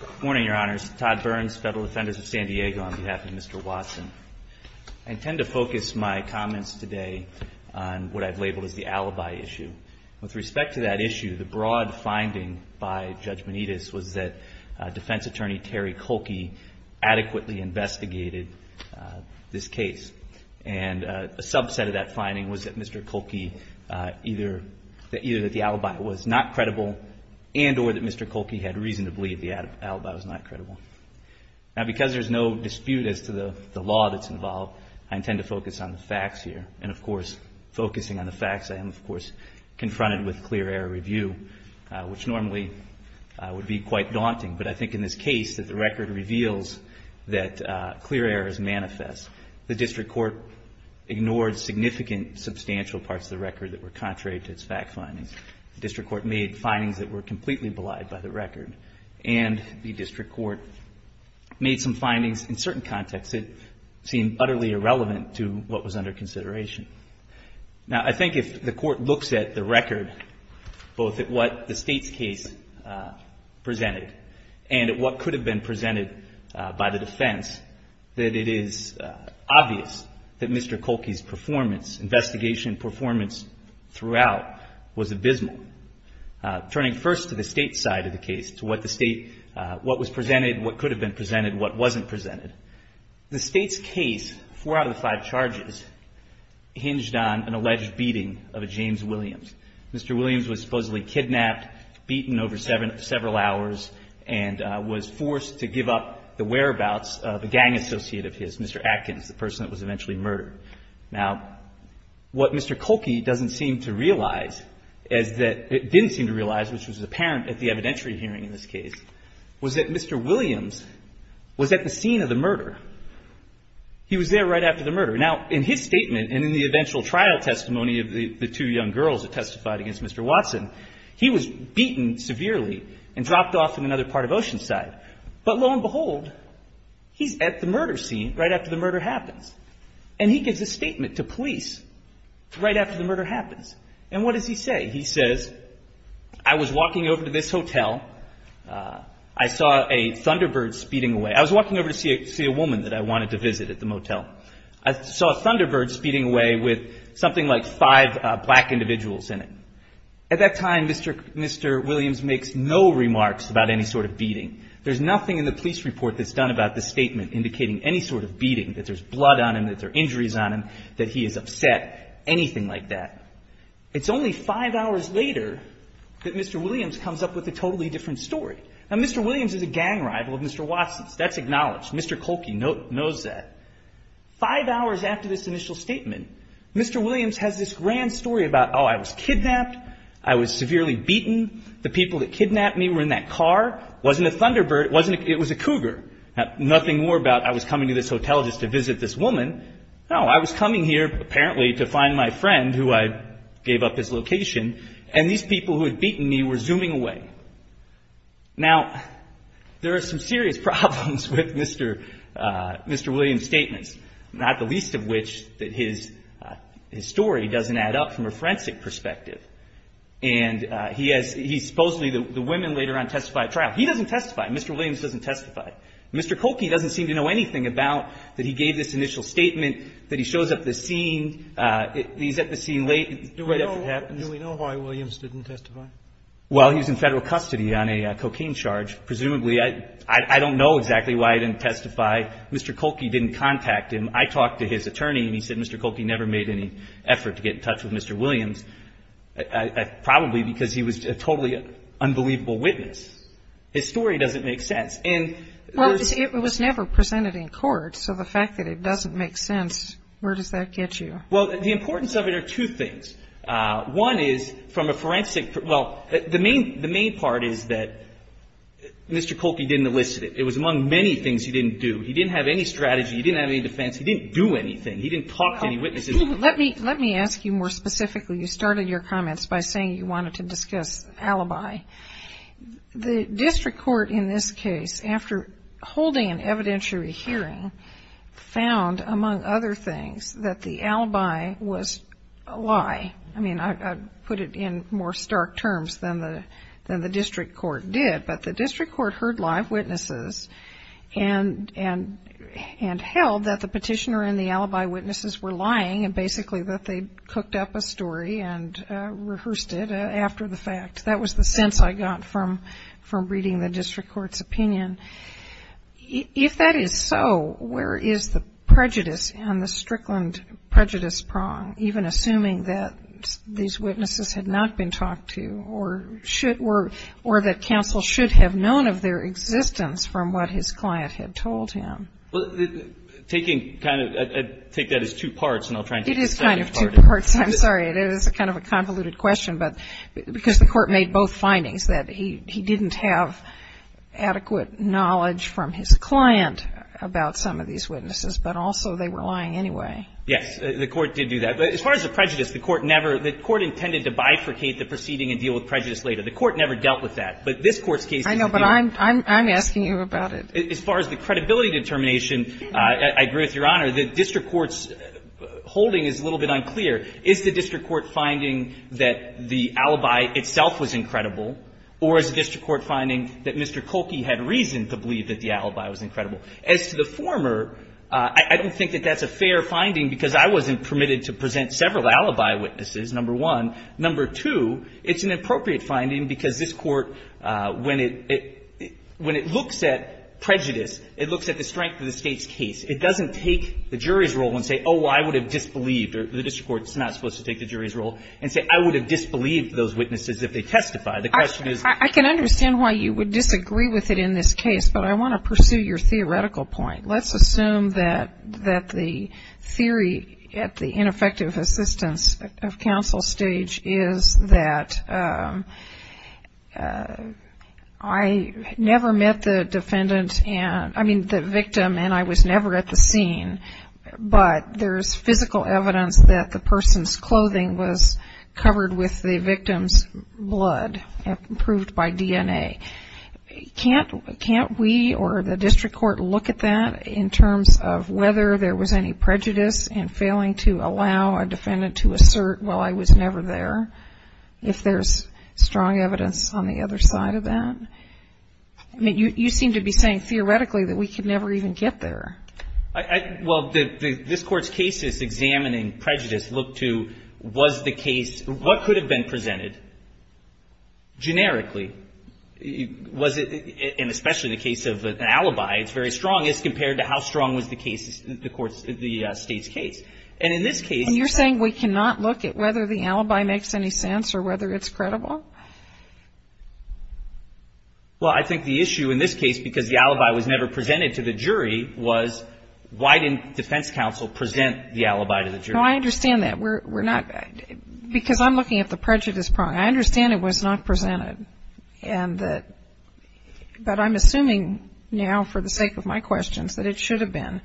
Good morning, Your Honors. Todd Burns, Federal Defenders of San Diego, on behalf of Mr. Watson. I intend to focus my comments today on what I've labeled as the alibi issue. With respect to that issue, the broad finding by Judge Benitez was that Defense Attorney Terry Koelke adequately investigated this case. And a subset of that finding was that Mr. Koelke, either that the alibi was not credible and or that Mr. Koelke had reason to believe the alibi was not credible. Now, because there's no dispute as to the law that's involved, I intend to focus on the facts here. And of course, focusing on the facts, I am of course confronted with clear error review, which normally would be quite daunting. But I think in this case that the record reveals that clear error is manifest. The district court ignored significant parts of the record that were contrary to its fact findings. The district court made findings that were completely belied by the record. And the district court made some findings in certain contexts that seemed utterly irrelevant to what was under consideration. Now I think if the court looks at the record, both at what the State's case presented and at what could have been presented by the defense, that it is obvious that Mr. Koelke's performance, investigation performance throughout was abysmal. Turning first to the State's side of the case, to what the State, what was presented, what could have been presented, what wasn't presented. The State's case, four out of the five charges, hinged on an alleged beating of a James Williams. Mr. Williams was supposedly kidnapped, beaten over several hours and was forced to give up the whereabouts of a gang associate of his, Mr. Atkins, the Now, what Mr. Koelke doesn't seem to realize is that, didn't seem to realize, which was apparent at the evidentiary hearing in this case, was that Mr. Williams was at the scene of the murder. He was there right after the murder. Now, in his statement and in the eventual trial testimony of the two young girls that testified against Mr. Watson, he was beaten severely and dropped off in another part of Oceanside. But lo and behold, he's at the murder scene right after the murder happens. And he gives a statement to police right after the murder happens. And what does he say? He says, I was walking over to this hotel. I saw a thunderbird speeding away. I was walking over to see a woman that I wanted to visit at the motel. I saw a thunderbird speeding away with something like five black individuals in it. At that time, Mr. Williams makes no remarks about any sort of beating. There's nothing in the police report that's done about the statement indicating any sort of beating, that there's blood on him, that there are injuries on him, that he is upset, anything like that. It's only five hours later that Mr. Williams comes up with a totally different story. Now, Mr. Williams is a gang rival of Mr. Watson's. That's acknowledged. Mr. Kolke knows that. Five hours after this initial statement, Mr. Williams has this grand story about, oh, I was kidnapped. I was severely beaten. The people that kidnapped me were in that car. Wasn't a thunderbird. It was a cougar. Nothing more about, I was coming to this hotel just to visit this woman. No, I was coming here, apparently, to find my friend, who I gave up his location, and these people who had beaten me were zooming away. Now, there are some serious problems with Mr. Williams' statements, not the least of which that his story doesn't add up from a forensic perspective. And he supposedly, the women later on testify at trial. He doesn't testify. Mr. Williams doesn't testify. Mr. Kolke, he gave this initial statement that he shows up at the scene. He's at the scene late. Do we know why Williams didn't testify? Well, he was in Federal custody on a cocaine charge, presumably. I don't know exactly why I didn't testify. Mr. Kolke didn't contact him. I talked to his attorney, and he said Mr. Kolke never made any effort to get in touch with Mr. Williams, probably because he was a totally unbelievable witness. His story doesn't make sense. Well, it was never presented in court, so the fact that it doesn't make sense, where does that get you? Well, the importance of it are two things. One is, from a forensic, well, the main part is that Mr. Kolke didn't elicit it. It was among many things he didn't do. He didn't have any strategy. He didn't have any defense. He didn't do anything. He didn't talk to any witnesses. Let me ask you more specifically. You started your comments by saying you wanted to discuss alibi. The district court in this case, after holding an evidentiary hearing, found, among other things, that the alibi was a lie. I mean, I'd put it in more stark terms than the district court did, but the district court heard live witnesses and held that the petitioner and the alibi witnesses were lying and basically that they'd cooked up a story and rehearsed it after the fact. That was the sense I got from reading the district court's opinion. If that is so, where is the prejudice and the Strickland prejudice prong, even assuming that these witnesses had not been talked to or that counsel should have known of their existence from what his client had told him? Taking that as two parts, and I'll try and get to the second part. It's kind of two parts. I'm sorry. It is kind of a convoluted question, but because the court made both findings, that he didn't have adequate knowledge from his client about some of these witnesses, but also they were lying anyway. Yes. The court did do that. But as far as the prejudice, the court never – the court intended to bifurcate the proceeding and deal with prejudice later. The court never dealt with that. But this court's case is a deal. I know, but I'm asking you about it. As far as the credibility determination, I agree with Your Honor. The district court's holding is a little bit unclear. Is the district court finding that the alibi itself was incredible, or is the district court finding that Mr. Kolke had reason to believe that the alibi was incredible? As to the former, I don't think that that's a fair finding because I wasn't permitted to present several alibi witnesses, number one. Number two, it's an appropriate finding because this court, when it – when it looks at prejudice, it looks at the strength of the State's case. It doesn't take the jury's role and say, oh, I would have disbelieved, or the district court's not supposed to take the jury's role, and say, I would have disbelieved those witnesses if they testified. The question is – I can understand why you would disagree with it in this case, but I want to pursue your theoretical point. Let's assume that – that the theory at the ineffective assistance of counsel stage is that I never met the defendant and – I mean, the victim, and I was never at the scene, but there's physical evidence that the person's clothing was covered with the victim's blood, proved by DNA. Can't – can't we or the district court look at that in terms of whether there was any prejudice in failing to allow a defendant to assert, well, I was never there, if there's strong evidence on the other side of that? I mean, you – you seem to be saying theoretically that we could never even get there. I – I – well, the – this Court's case is examining prejudice. Look to was the case – what could have been presented? Generically. Was it – and especially the case of an alibi, it's very strong, as compared to how strong was the case – the Court's – the State's case. And in this case – And you're saying we cannot look at whether the alibi makes any sense or whether it's Well, I think the issue in this case, because the alibi was never presented to the jury, was why didn't defense counsel present the alibi to the jury? No, I understand that. We're – we're not – because I'm looking at the prejudice problem. I understand it was not presented. And that – but I'm assuming now, for the sake of my questions, that it should have been.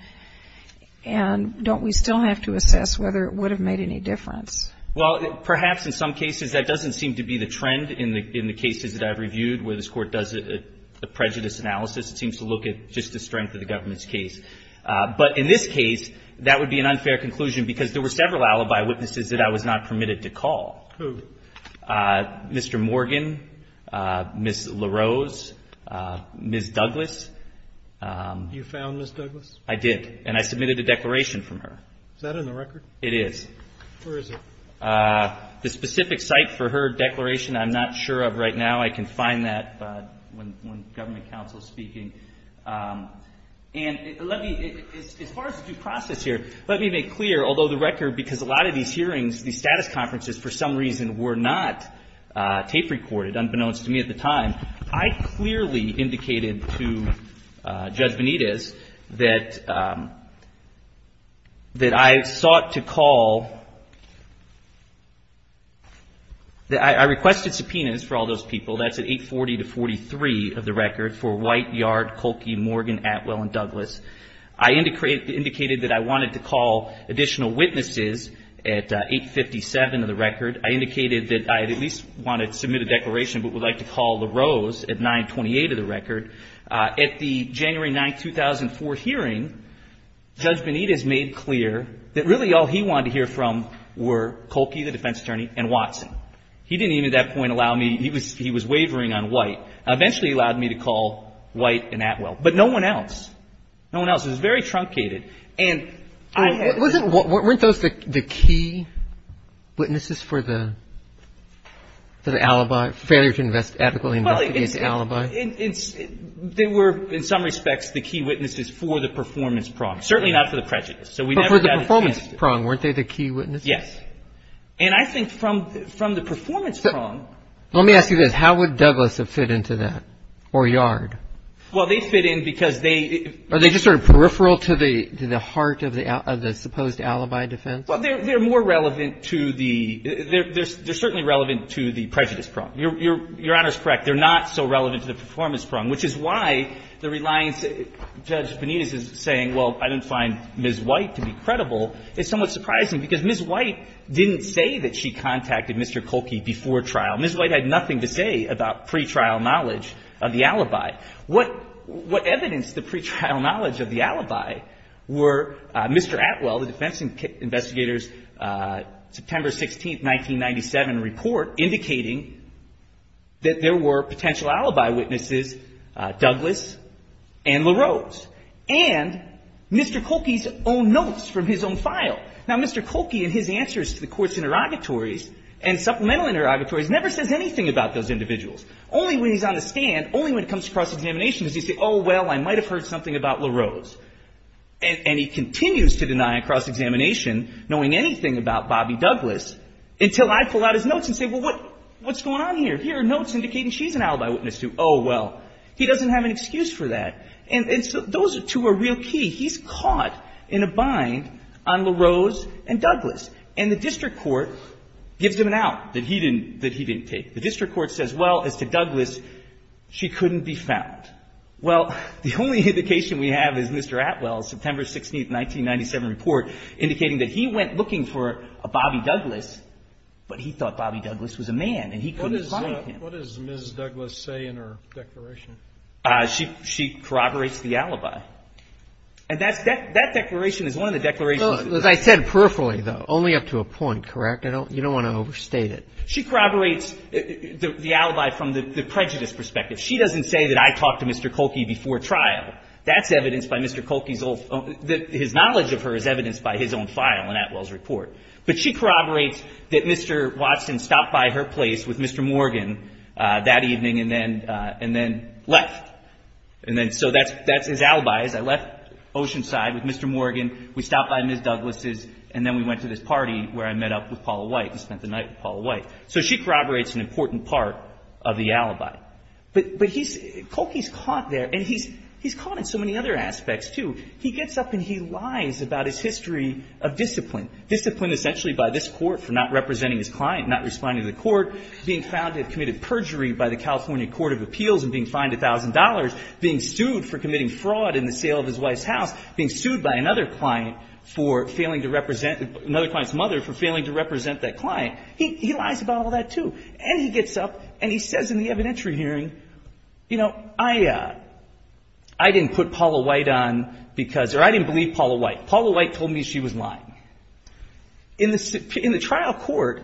And don't we still have to assess whether it would have made any difference? Well, perhaps in some cases that doesn't seem to be the trend in the – in the cases that I've reviewed where this Court does a prejudice analysis, it seems to look at just the strength of the government's case. But in this case, that would be an unfair conclusion because there were several alibi witnesses that I was not permitted to call. Who? Mr. Morgan, Ms. LaRose, Ms. Douglas. You found Ms. Douglas? I did. And I submitted a declaration from her. Is that in the record? It is. Where is it? The specific site for her declaration, I'm not sure of right now. I can find that when government counsel is speaking. And let me – as far as the due process here, let me make clear, although the record – because a lot of these hearings, these status conferences, for some reason, were not tape recorded, unbeknownst to me at the time, I clearly indicated to counsel that I requested subpoenas for all those people. That's at 840-43 of the record for White, Yard, Kolke, Morgan, Atwell, and Douglas. I indicated that I wanted to call additional witnesses at 857 of the record. I indicated that I at least wanted to submit a declaration but would like to call LaRose at 928 of the record. At the January 9, 2004 hearing, Judge Benitez made clear that really all he wanted to hear from were Kolke, the defense attorney, and Watson. He didn't even at that point allow me – he was wavering on White. Eventually, he allowed me to call White and Atwell. But no one else. No one else. It was very truncated. And I had to – Wasn't – weren't those the key witnesses for the – for the alibi, failure to invest – adequately investigate the alibi? Well, it's – they were, in some respects, the key witnesses for the performance prong, certainly not for the prejudice. So we never got a chance to – But they were the key witnesses for the performance prong, weren't they, the key witnesses? Yes. And I think from – from the performance prong – Let me ask you this. How would Douglas have fit into that, or Yard? Well, they fit in because they – Are they just sort of peripheral to the – to the heart of the – of the supposed alibi defense? Well, they're – they're more relevant to the – they're certainly relevant to the prejudice prong. Your Honor is correct. They're not so relevant to the performance prong, which is why the reliance – Judge Benitez is saying, well, I didn't find Ms. White to be credible, is somewhat surprising, because Ms. White didn't say that she contacted Mr. Kolke before trial. Ms. White had nothing to say about pretrial knowledge of the alibi. What – what evidenced the pretrial knowledge of the alibi were Mr. Atwell, the defense investigator's September 16, 1997, report indicating that there were potential alibi witnesses, Douglas and LaRose, and Mr. Kolke's own notes from his own file. Now, Mr. Kolke in his answers to the Court's interrogatories and supplemental interrogatories never says anything about those individuals. Only when he's on the stand, only when it comes to cross-examination does he say, oh, well, I might have heard something about LaRose. And he continues to deny a cross-examination, knowing anything about Bobby Douglas, until I pull out his notes and say, well, what – what's going on here? Here are notes indicating she's an alibi witness, too. Oh, well. He doesn't have an excuse for that. And – and so those two are real key. He's caught in a bind on LaRose and Douglas. And the district court gives him an out that he didn't – that he didn't take. The district court says, well, as to Douglas, she couldn't be found. Well, the only indication we have is Mr. Atwell's September 16, 1997, report indicating that he went looking for a Bobby Douglas, but he thought Bobby Douglas was a man and he couldn't find him. What does Mrs. Douglas say in her declaration? She corroborates the alibi. And that's – that declaration is one of the declarations – No, as I said, peripherally, though, only up to a point, correct? I don't – you don't want to overstate it. She corroborates the alibi from the prejudice perspective. She doesn't say that I talked to Mr. Kolke before trial. That's evidenced by Mr. Kolke's own – that his knowledge of her is evidenced by his own file in Atwell's report. But she corroborates that Mr. Watson stopped by her place with Mr. Morgan that evening and then – and then left. And then – so that's – that's his alibi, is I left Oceanside with Mr. Morgan, we stopped by Ms. Douglas's, and then we went to this party where I met up with Paula White and spent the night with Paula White. So she corroborates an important part of the alibi. But he's – Kolke's caught there and he's caught in so many other aspects, too. He gets up and he lies about his history of discipline, discipline essentially by this court for not representing his client, not responding to the court, being found to have committed perjury by the California Court of Appeals and being fined $1,000, being sued for committing fraud in the sale of his wife's house, being sued by another client for failing to represent – another client's mother for failing to represent that client. He – he lies about all that, too. And he gets up and he says in the evidentiary hearing, you know, I – I didn't put Paula White on trial. Paula White told me she was lying. In the – in the trial court,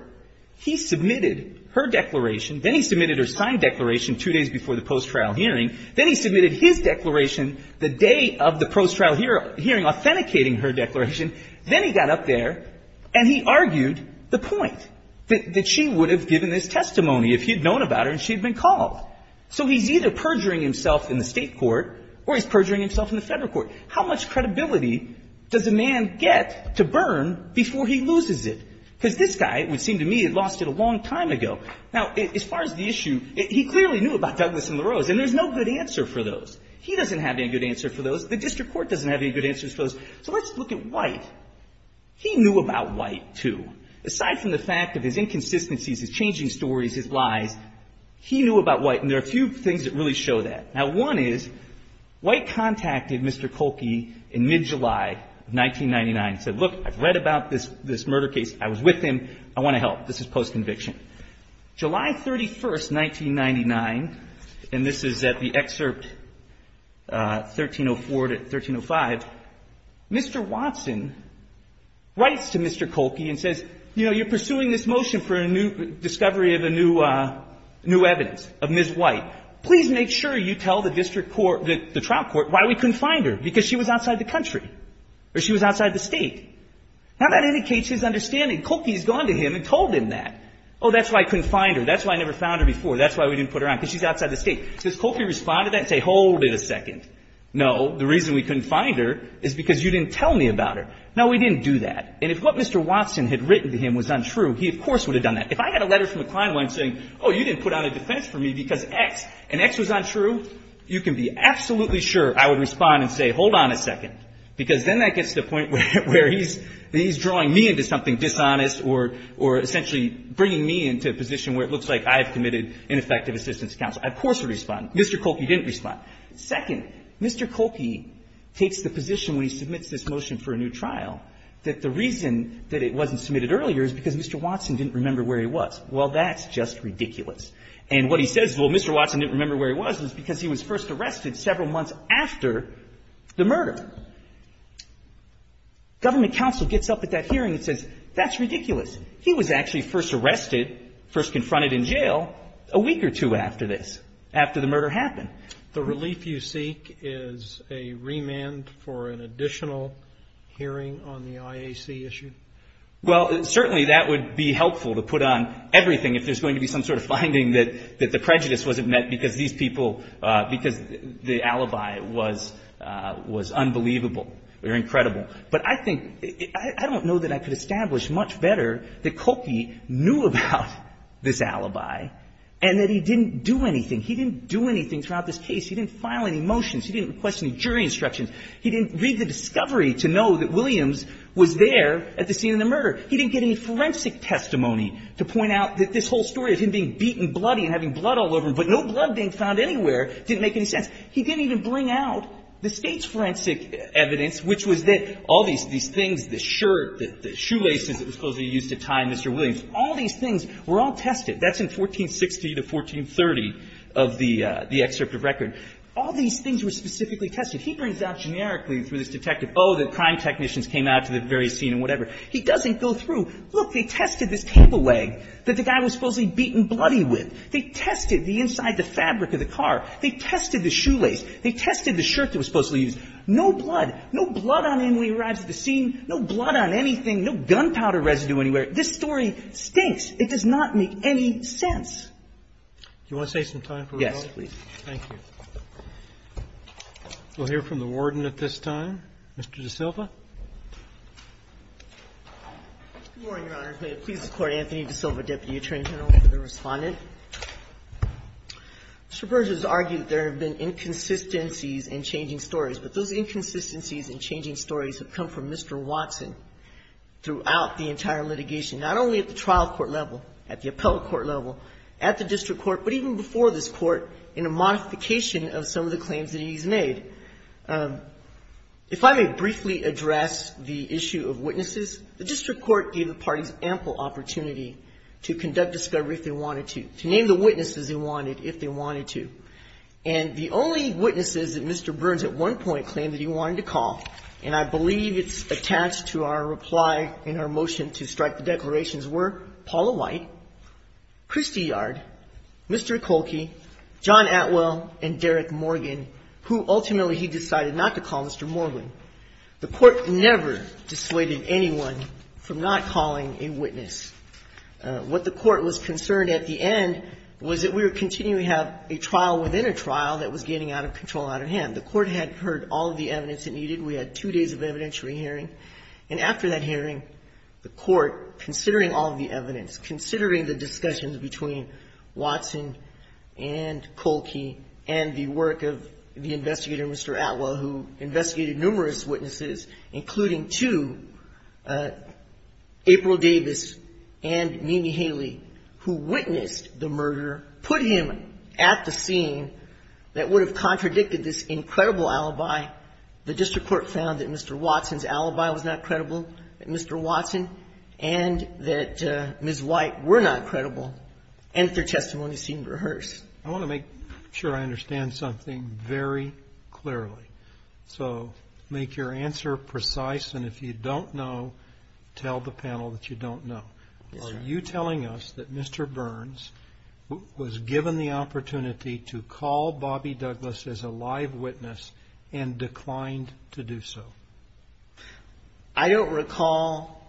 he submitted her declaration. Then he submitted her signed declaration two days before the post-trial hearing. Then he submitted his declaration the day of the post-trial hearing authenticating her declaration. Then he got up there and he argued the point, that – that she would have given this testimony if he had known about her and she had been called. So he's either perjuring himself in the state court or he's perjuring himself in the federal How much credibility does a man get to burn before he loses it? Because this guy, it would seem to me, had lost it a long time ago. Now, as far as the issue, he clearly knew about Douglas and LaRose, and there's no good answer for those. He doesn't have any good answer for those. The district court doesn't have any good answers for those. So let's look at White. He knew about White, too. Aside from the fact of his inconsistencies, his changing stories, his lies, he knew about White. And there are a few things that really show that. Now, one is, White contacted Mr. Kolke in mid-July of 1999 and said, look, I've read about this murder case. I was with him. I want to help. This is post-conviction. July 31st, 1999, and this is at the excerpt 1304 to 1305, Mr. Watson writes to Mr. Kolke and says, you know, you're pursuing this motion for a new discovery of a new evidence of Ms. White. Please make sure you tell the district court, the trial court, why we couldn't find her, because she was outside the country, or she was outside the State. Now, that indicates his understanding. Kolke's gone to him and told him that. Oh, that's why I couldn't find her. That's why I never found her before. That's why we didn't put her on, because she's outside the State. Does Kolke respond to that and say, hold it a second. No, the reason we couldn't find her is because you didn't tell me about her. Now, we didn't do that. And if what Mr. Watson had written to him was untrue, he, of course, would have done that. If I had a letter from a client of mine saying, oh, you didn't put on a defense for me because X, and X was untrue, you can be absolutely sure I would respond and say, hold on a second, because then that gets to the point where he's drawing me into something dishonest or essentially bringing me into a position where it looks like I have committed ineffective assistance to counsel. I, of course, would respond. Mr. Kolke didn't respond. Second, Mr. Kolke takes the position when he submits this motion for a new trial that the reason that it wasn't submitted earlier is because Mr. Watson didn't remember where he was. Well, that's just ridiculous. And what he says, well, Mr. Watson didn't remember where he was, is because he was first arrested several months after the murder. Government counsel gets up at that hearing and says, that's ridiculous. He was actually first arrested, first confronted in jail a week or two after this, after the murder happened. The relief you seek is a remand for an additional hearing on the IAC issue? Well, certainly that would be helpful to put on everything if there's going to be some sort of finding that the prejudice wasn't met because these people, because the alibi was unbelievable or incredible. But I think, I don't know that I could establish much better that Kolke knew about this alibi and that he didn't do anything. He didn't do anything throughout this case. He didn't file any motions. He didn't request any jury instructions. He didn't read the discovery to know that Williams was there at the scene of the murder. He didn't get any forensic testimony to point out that this whole story of him being beaten bloody and having blood all over him, but no blood being found anywhere, didn't make any sense. He didn't even bring out the State's forensic evidence, which was that all these things, the shirt, the shoelaces that were supposed to be used to tie Mr. Williams, all these things were all tested. That's in 1460 to 1430 of the excerpt of record. All these things were specifically tested. He brings out generically through this detective, oh, the crime technicians came out to the very scene and whatever. He doesn't go through, look, they tested this cable leg that the guy was supposedly beaten bloody with. They tested the inside of the fabric of the car. They tested the shoelace. They tested the shirt that was supposedly used. No blood. No blood on him when he arrives at the scene. No blood on anything. No gunpowder residue anywhere. This story stinks. It does not make any sense. Roberts. Do you want to save some time for rebuttal? Yes, please. Thank you. We'll hear from the Warden at this time. Mr. DaSilva. Good morning, Your Honors. May it please the Court, Anthony DaSilva, Deputy Attorney General, and the Respondent. Mr. Berger has argued that there have been inconsistencies in changing stories, but those inconsistencies in changing stories have come from modification, not only at the trial court level, at the appellate court level, at the district court, but even before this court in a modification of some of the claims that he's made. If I may briefly address the issue of witnesses, the district court gave the parties ample opportunity to conduct discovery if they wanted to, to name the witnesses they wanted if they wanted to. And the only witnesses that Mr. Burns at one point claimed that he wanted to call, and I believe it's attached to our reply in our motion to strike the declarations, were Paula White, Christy Yard, Mr. Kolke, John Atwell, and Derek Morgan, who ultimately he decided not to call Mr. Morgan. The Court never dissuaded anyone from not calling a witness. What the Court was concerned at the end was that we were continuing to have a trial within a trial that was getting out of control, out of hand. The Court had heard all of the evidence it needed. We had two days of evidentiary hearing. And after that hearing, the Court, considering all of the evidence, considering the discussions between Watson and Kolke and the work of the investigator, Mr. Atwell, who investigated numerous witnesses, including two, April Davis and Mimi Haley, who witnessed the murder, put him at the scene that would have resulted in the death of Mr. Atwell. The Court decided that Mr. Watson's alibi was not credible, that Mr. Watson and that Ms. White were not credible, and that their testimony seemed rehearsed. Roberts. I want to make sure I understand something very clearly. So make your answer precise, and if you don't know, tell the panel that you don't know. Are you telling us that you don't know? I don't recall.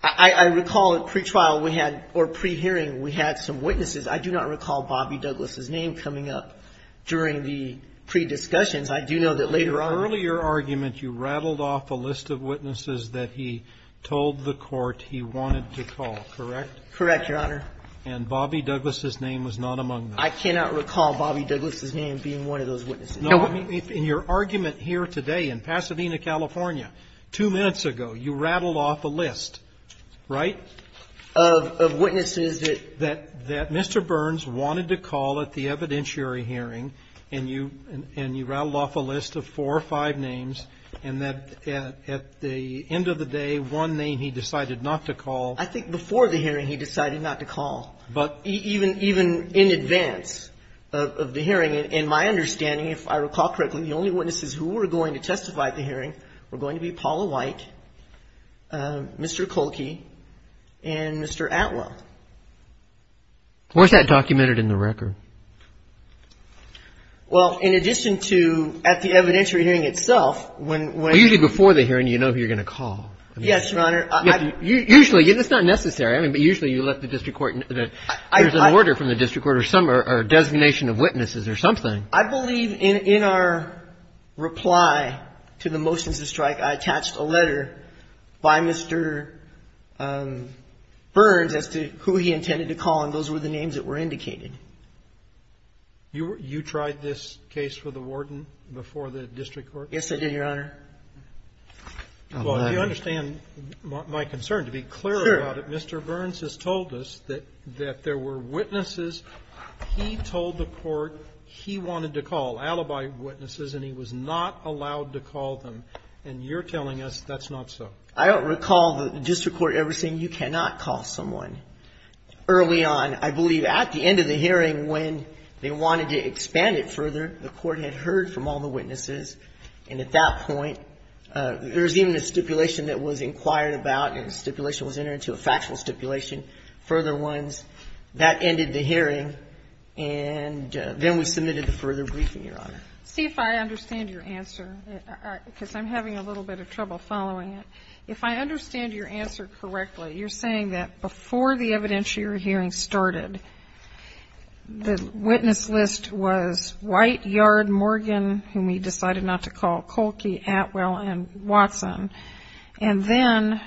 I recall at pretrial we had, or pre-hearing, we had some witnesses. I do not recall Bobby Douglas's name coming up during the pre-discussions. I do know that later on the earlier argument, you rattled off a list of witnesses that he told the Court he wanted to call, correct? Correct, Your Honor. And Bobby Douglas's name was not among them. I cannot recall Bobby Douglas's name being one of those witnesses. No. In your argument here today in Pasadena, California, two minutes ago, you rattled off a list, right, of witnesses that Mr. Burns wanted to call at the evidentiary hearing, and you rattled off a list of four or five names, and that at the end of the day, one name he decided not to call. I think before the hearing he decided not to call, even in advance of the hearing. In my understanding, if I recall correctly, the only witnesses who were going to testify at the hearing were going to be Paula White, Mr. Kolke, and Mr. Atwell. Where's that documented in the record? Well, in addition to at the evidentiary hearing itself, when – Usually before the hearing, you know who you're going to call. Yes, Your Honor. Usually. It's not necessary. I mean, but usually you let the district court – there's an order from the district court or a designation of witnesses or something. I believe in our reply to the motions to strike, I attached a letter by Mr. Burns as to who he intended to call, and those were the names that were indicated. You tried this case for the warden before the district court? Yes, I did, Your Honor. Well, you understand my concern, to be clear about it. Sure. Mr. Burns has told us that there were witnesses he told the court he wanted to call, alibi witnesses, and he was not allowed to call them, and you're telling us that's not so. I don't recall the district court ever saying you cannot call someone. Early on, I believe at the end of the hearing, when they wanted to expand it further, the court had heard from all the witnesses, and at that point, there was even a stipulation that was inquired about, and the stipulation was entered into a factual stipulation, further ones. That ended the hearing, and then we submitted the further briefing, Your Honor. See if I understand your answer, because I'm having a little bit of trouble following it. If I understand your answer correctly, you're saying that before the evidentiary hearing started, the witness list was White, Yard, Morgan, whom we decided not to call, Colkey, Atwell, and Watson, and then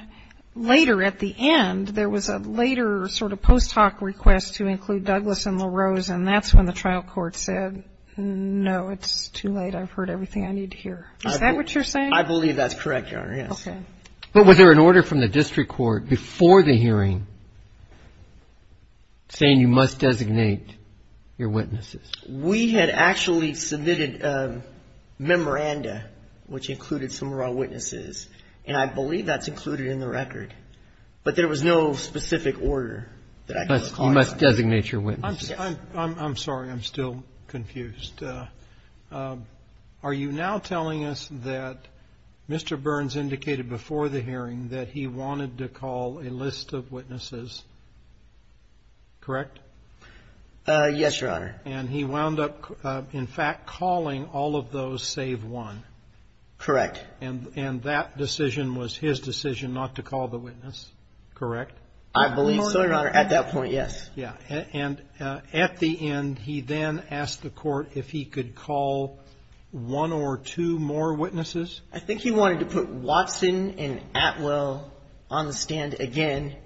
later at the end, there was a later sort of post hoc request to include Douglas and LaRose, and that's when the trial court said, no, it's too late. I've heard everything I need to hear. Is that what you're saying? I believe that's correct, Your Honor. Yes. Okay. But was there an order from the district court before the hearing saying you must designate your witnesses? We had actually submitted a memoranda, which included some of our witnesses, and I believe that's included in the record, but there was no specific order. You must designate your witnesses. I'm sorry. I'm still confused. Are you now telling us that Mr. Burns indicated before the hearing that he wanted to call a list of witnesses, correct? Yes, Your Honor. And he wound up, in fact, calling all of those save one. Correct. And that decision was his decision not to call the witness, correct? I believe so, Your Honor, at that point, yes. Yeah. And at the end, he then asked the court if he could call one or two more witnesses? I think he wanted to put Watson and Atwell on the stand again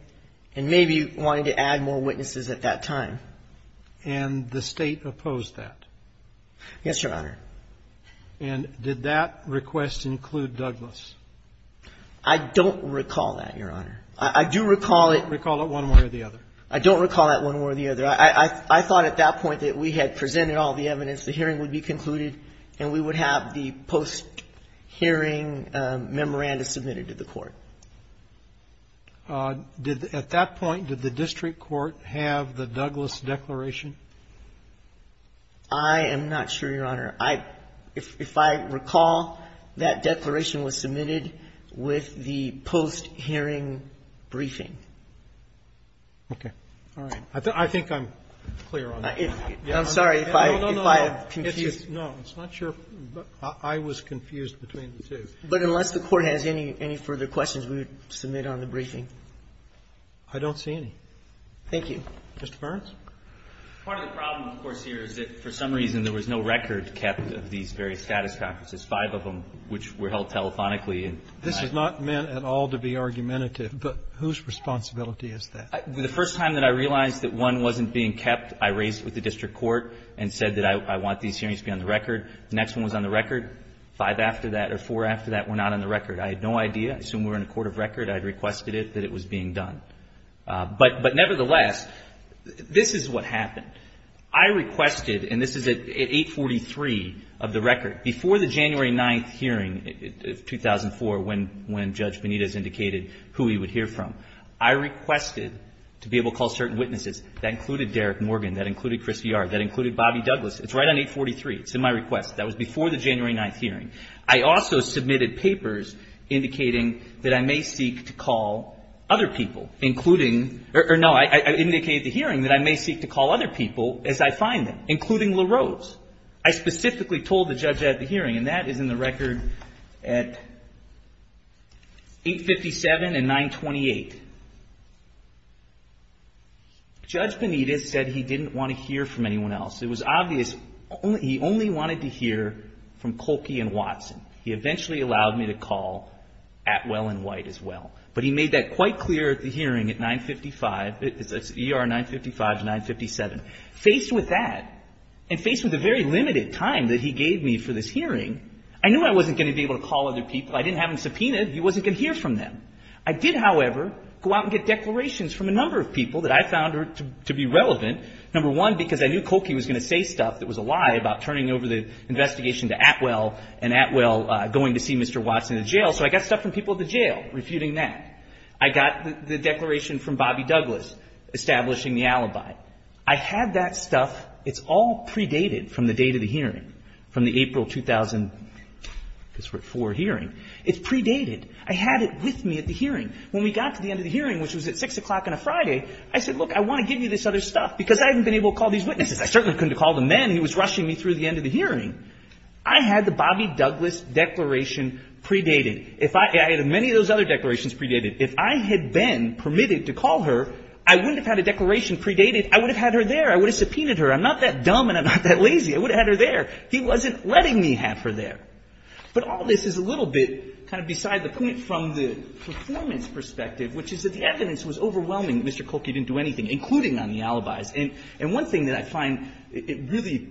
and maybe wanted to add more witnesses at that time. And the State opposed that? Yes, Your Honor. And did that request include Douglas? I don't recall that, Your Honor. I do recall it. Recall it one way or the other? I don't recall that one way or the other. I thought at that point that we had presented all the evidence, the hearing would be concluded, and we would have the post-hearing memoranda submitted to the court. At that point, did the district court have the Douglas declaration? I am not sure, Your Honor. If I recall, that declaration was submitted with the post-hearing briefing. Okay. All right. I think I'm clear on that. I'm sorry if I have confused you. No, no, no. No, it's not sure. I was confused between the two. But unless the Court has any further questions, we would submit on the briefing. I don't see any. Thank you. Mr. Burns? Part of the problem, of course, here is that for some reason there was no record kept of these various status conferences, five of them which were held telephonically. This is not meant at all to be argumentative, but whose responsibility is that? The first time that I realized that one wasn't being kept, I raised it with the district court and said that I want these hearings to be on the record. The next one was on the record. Five after that or four after that were not on the record. I had no idea. I assumed we were in a court of record. I had requested it that it was being done. But nevertheless, this is what happened. I requested, and this is at 843 of the record. Before the January 9th hearing of 2004, when Judge Benitez indicated who he would hear from, I requested to be able to call certain witnesses. That included Derek Morgan. That included Chris Yard. That included Bobby Douglas. It's right on 843. It's in my request. That was before the January 9th hearing. I also submitted papers indicating that I may seek to call other people, including or no, I indicated at the hearing that I may seek to call other people as I find them, including LaRose. I specifically told the judge at the hearing, and that is in the record at 857 and 928. Judge Benitez said he didn't want to hear from anyone else. It was obvious he only wanted to hear from Kolke and Watson. He eventually allowed me to call Atwell and White as well. But he made that quite clear at the hearing at 955. It's ER 955 to 957. Faced with that, and faced with the very limited time that he gave me for this hearing, I knew I wasn't going to be able to call other people. I didn't have them subpoenaed. He wasn't going to hear from them. I did, however, go out and get declarations from a number of people that I found to be relevant. Number one, because I knew Kolke was going to say stuff that was a lie about turning over the investigation to Atwell, and Atwell going to see Mr. Watson in jail. Also, I got stuff from people at the jail refuting that. I got the declaration from Bobby Douglas establishing the alibi. I had that stuff. It's all predated from the date of the hearing, from the April 2004 hearing. It's predated. I had it with me at the hearing. When we got to the end of the hearing, which was at 6 o'clock on a Friday, I said, look, I want to give you this other stuff because I haven't been able to call these witnesses. He was rushing me through the end of the hearing. I had the Bobby Douglas declaration predated. I had many of those other declarations predated. If I had been permitted to call her, I wouldn't have had a declaration predated. I would have had her there. I would have subpoenaed her. I'm not that dumb and I'm not that lazy. I would have had her there. He wasn't letting me have her there. But all this is a little bit kind of beside the point from the performance perspective, which is that the evidence was overwhelming that Mr. Kolke didn't do anything, including on the alibis. And one thing that I find, it really,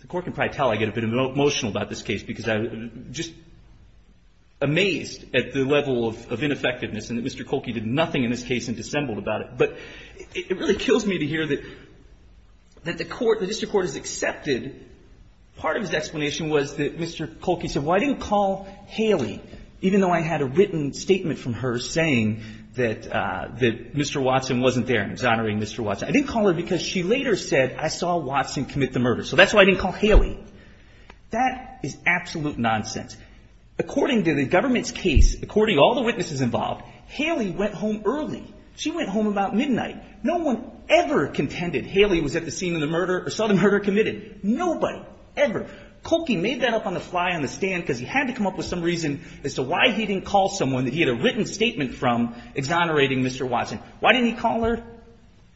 the Court can probably tell I get a bit emotional about this case because I'm just amazed at the level of ineffectiveness and that Mr. Kolke did nothing in this case and dissembled about it. But it really kills me to hear that the Court, the district court has accepted part of his explanation was that Mr. Kolke said, well, I didn't call Haley, even though I had a written statement from her saying that Mr. Watson wasn't there, exonerating Mr. Watson. I didn't call her because she later said, I saw Watson commit the murder. So that's why I didn't call Haley. That is absolute nonsense. According to the government's case, according to all the witnesses involved, Haley went home early. She went home about midnight. No one ever contended Haley was at the scene of the murder or saw the murder committed. Nobody ever. Kolke made that up on the fly on the stand because he had to come up with some reason as to why he didn't call someone that he had a written statement from exonerating Mr. Watson. Why didn't he call her?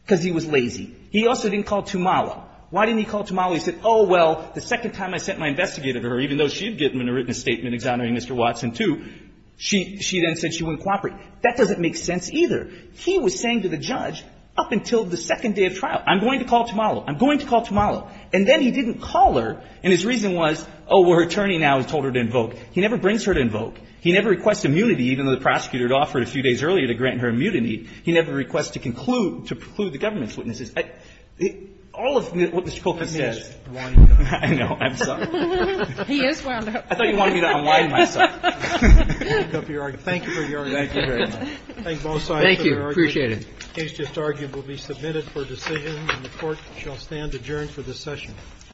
Because he was lazy. He also didn't call Tumala. Why didn't he call Tumala? He said, oh, well, the second time I sent my investigator to her, even though she had given him a written statement exonerating Mr. Watson too, she then said she wouldn't cooperate. That doesn't make sense either. He was saying to the judge, up until the second day of trial, I'm going to call Tumala. I'm going to call Tumala. And then he didn't call her, and his reason was, oh, her attorney now has told her to invoke. He never brings her to invoke. He never requests immunity, even though the prosecutor had offered a few days earlier to grant her a mutiny. He never requests to conclude, to preclude the government's witnesses. All of what Mr. Kolkis said. I know. I'm sorry. He is wound up. I thought you wanted me to unwind myself. Thank you for your argument. Thank you very much. Thank you. Appreciate it. The case just argued will be submitted for decision, and the Court shall stand adjourned for this session.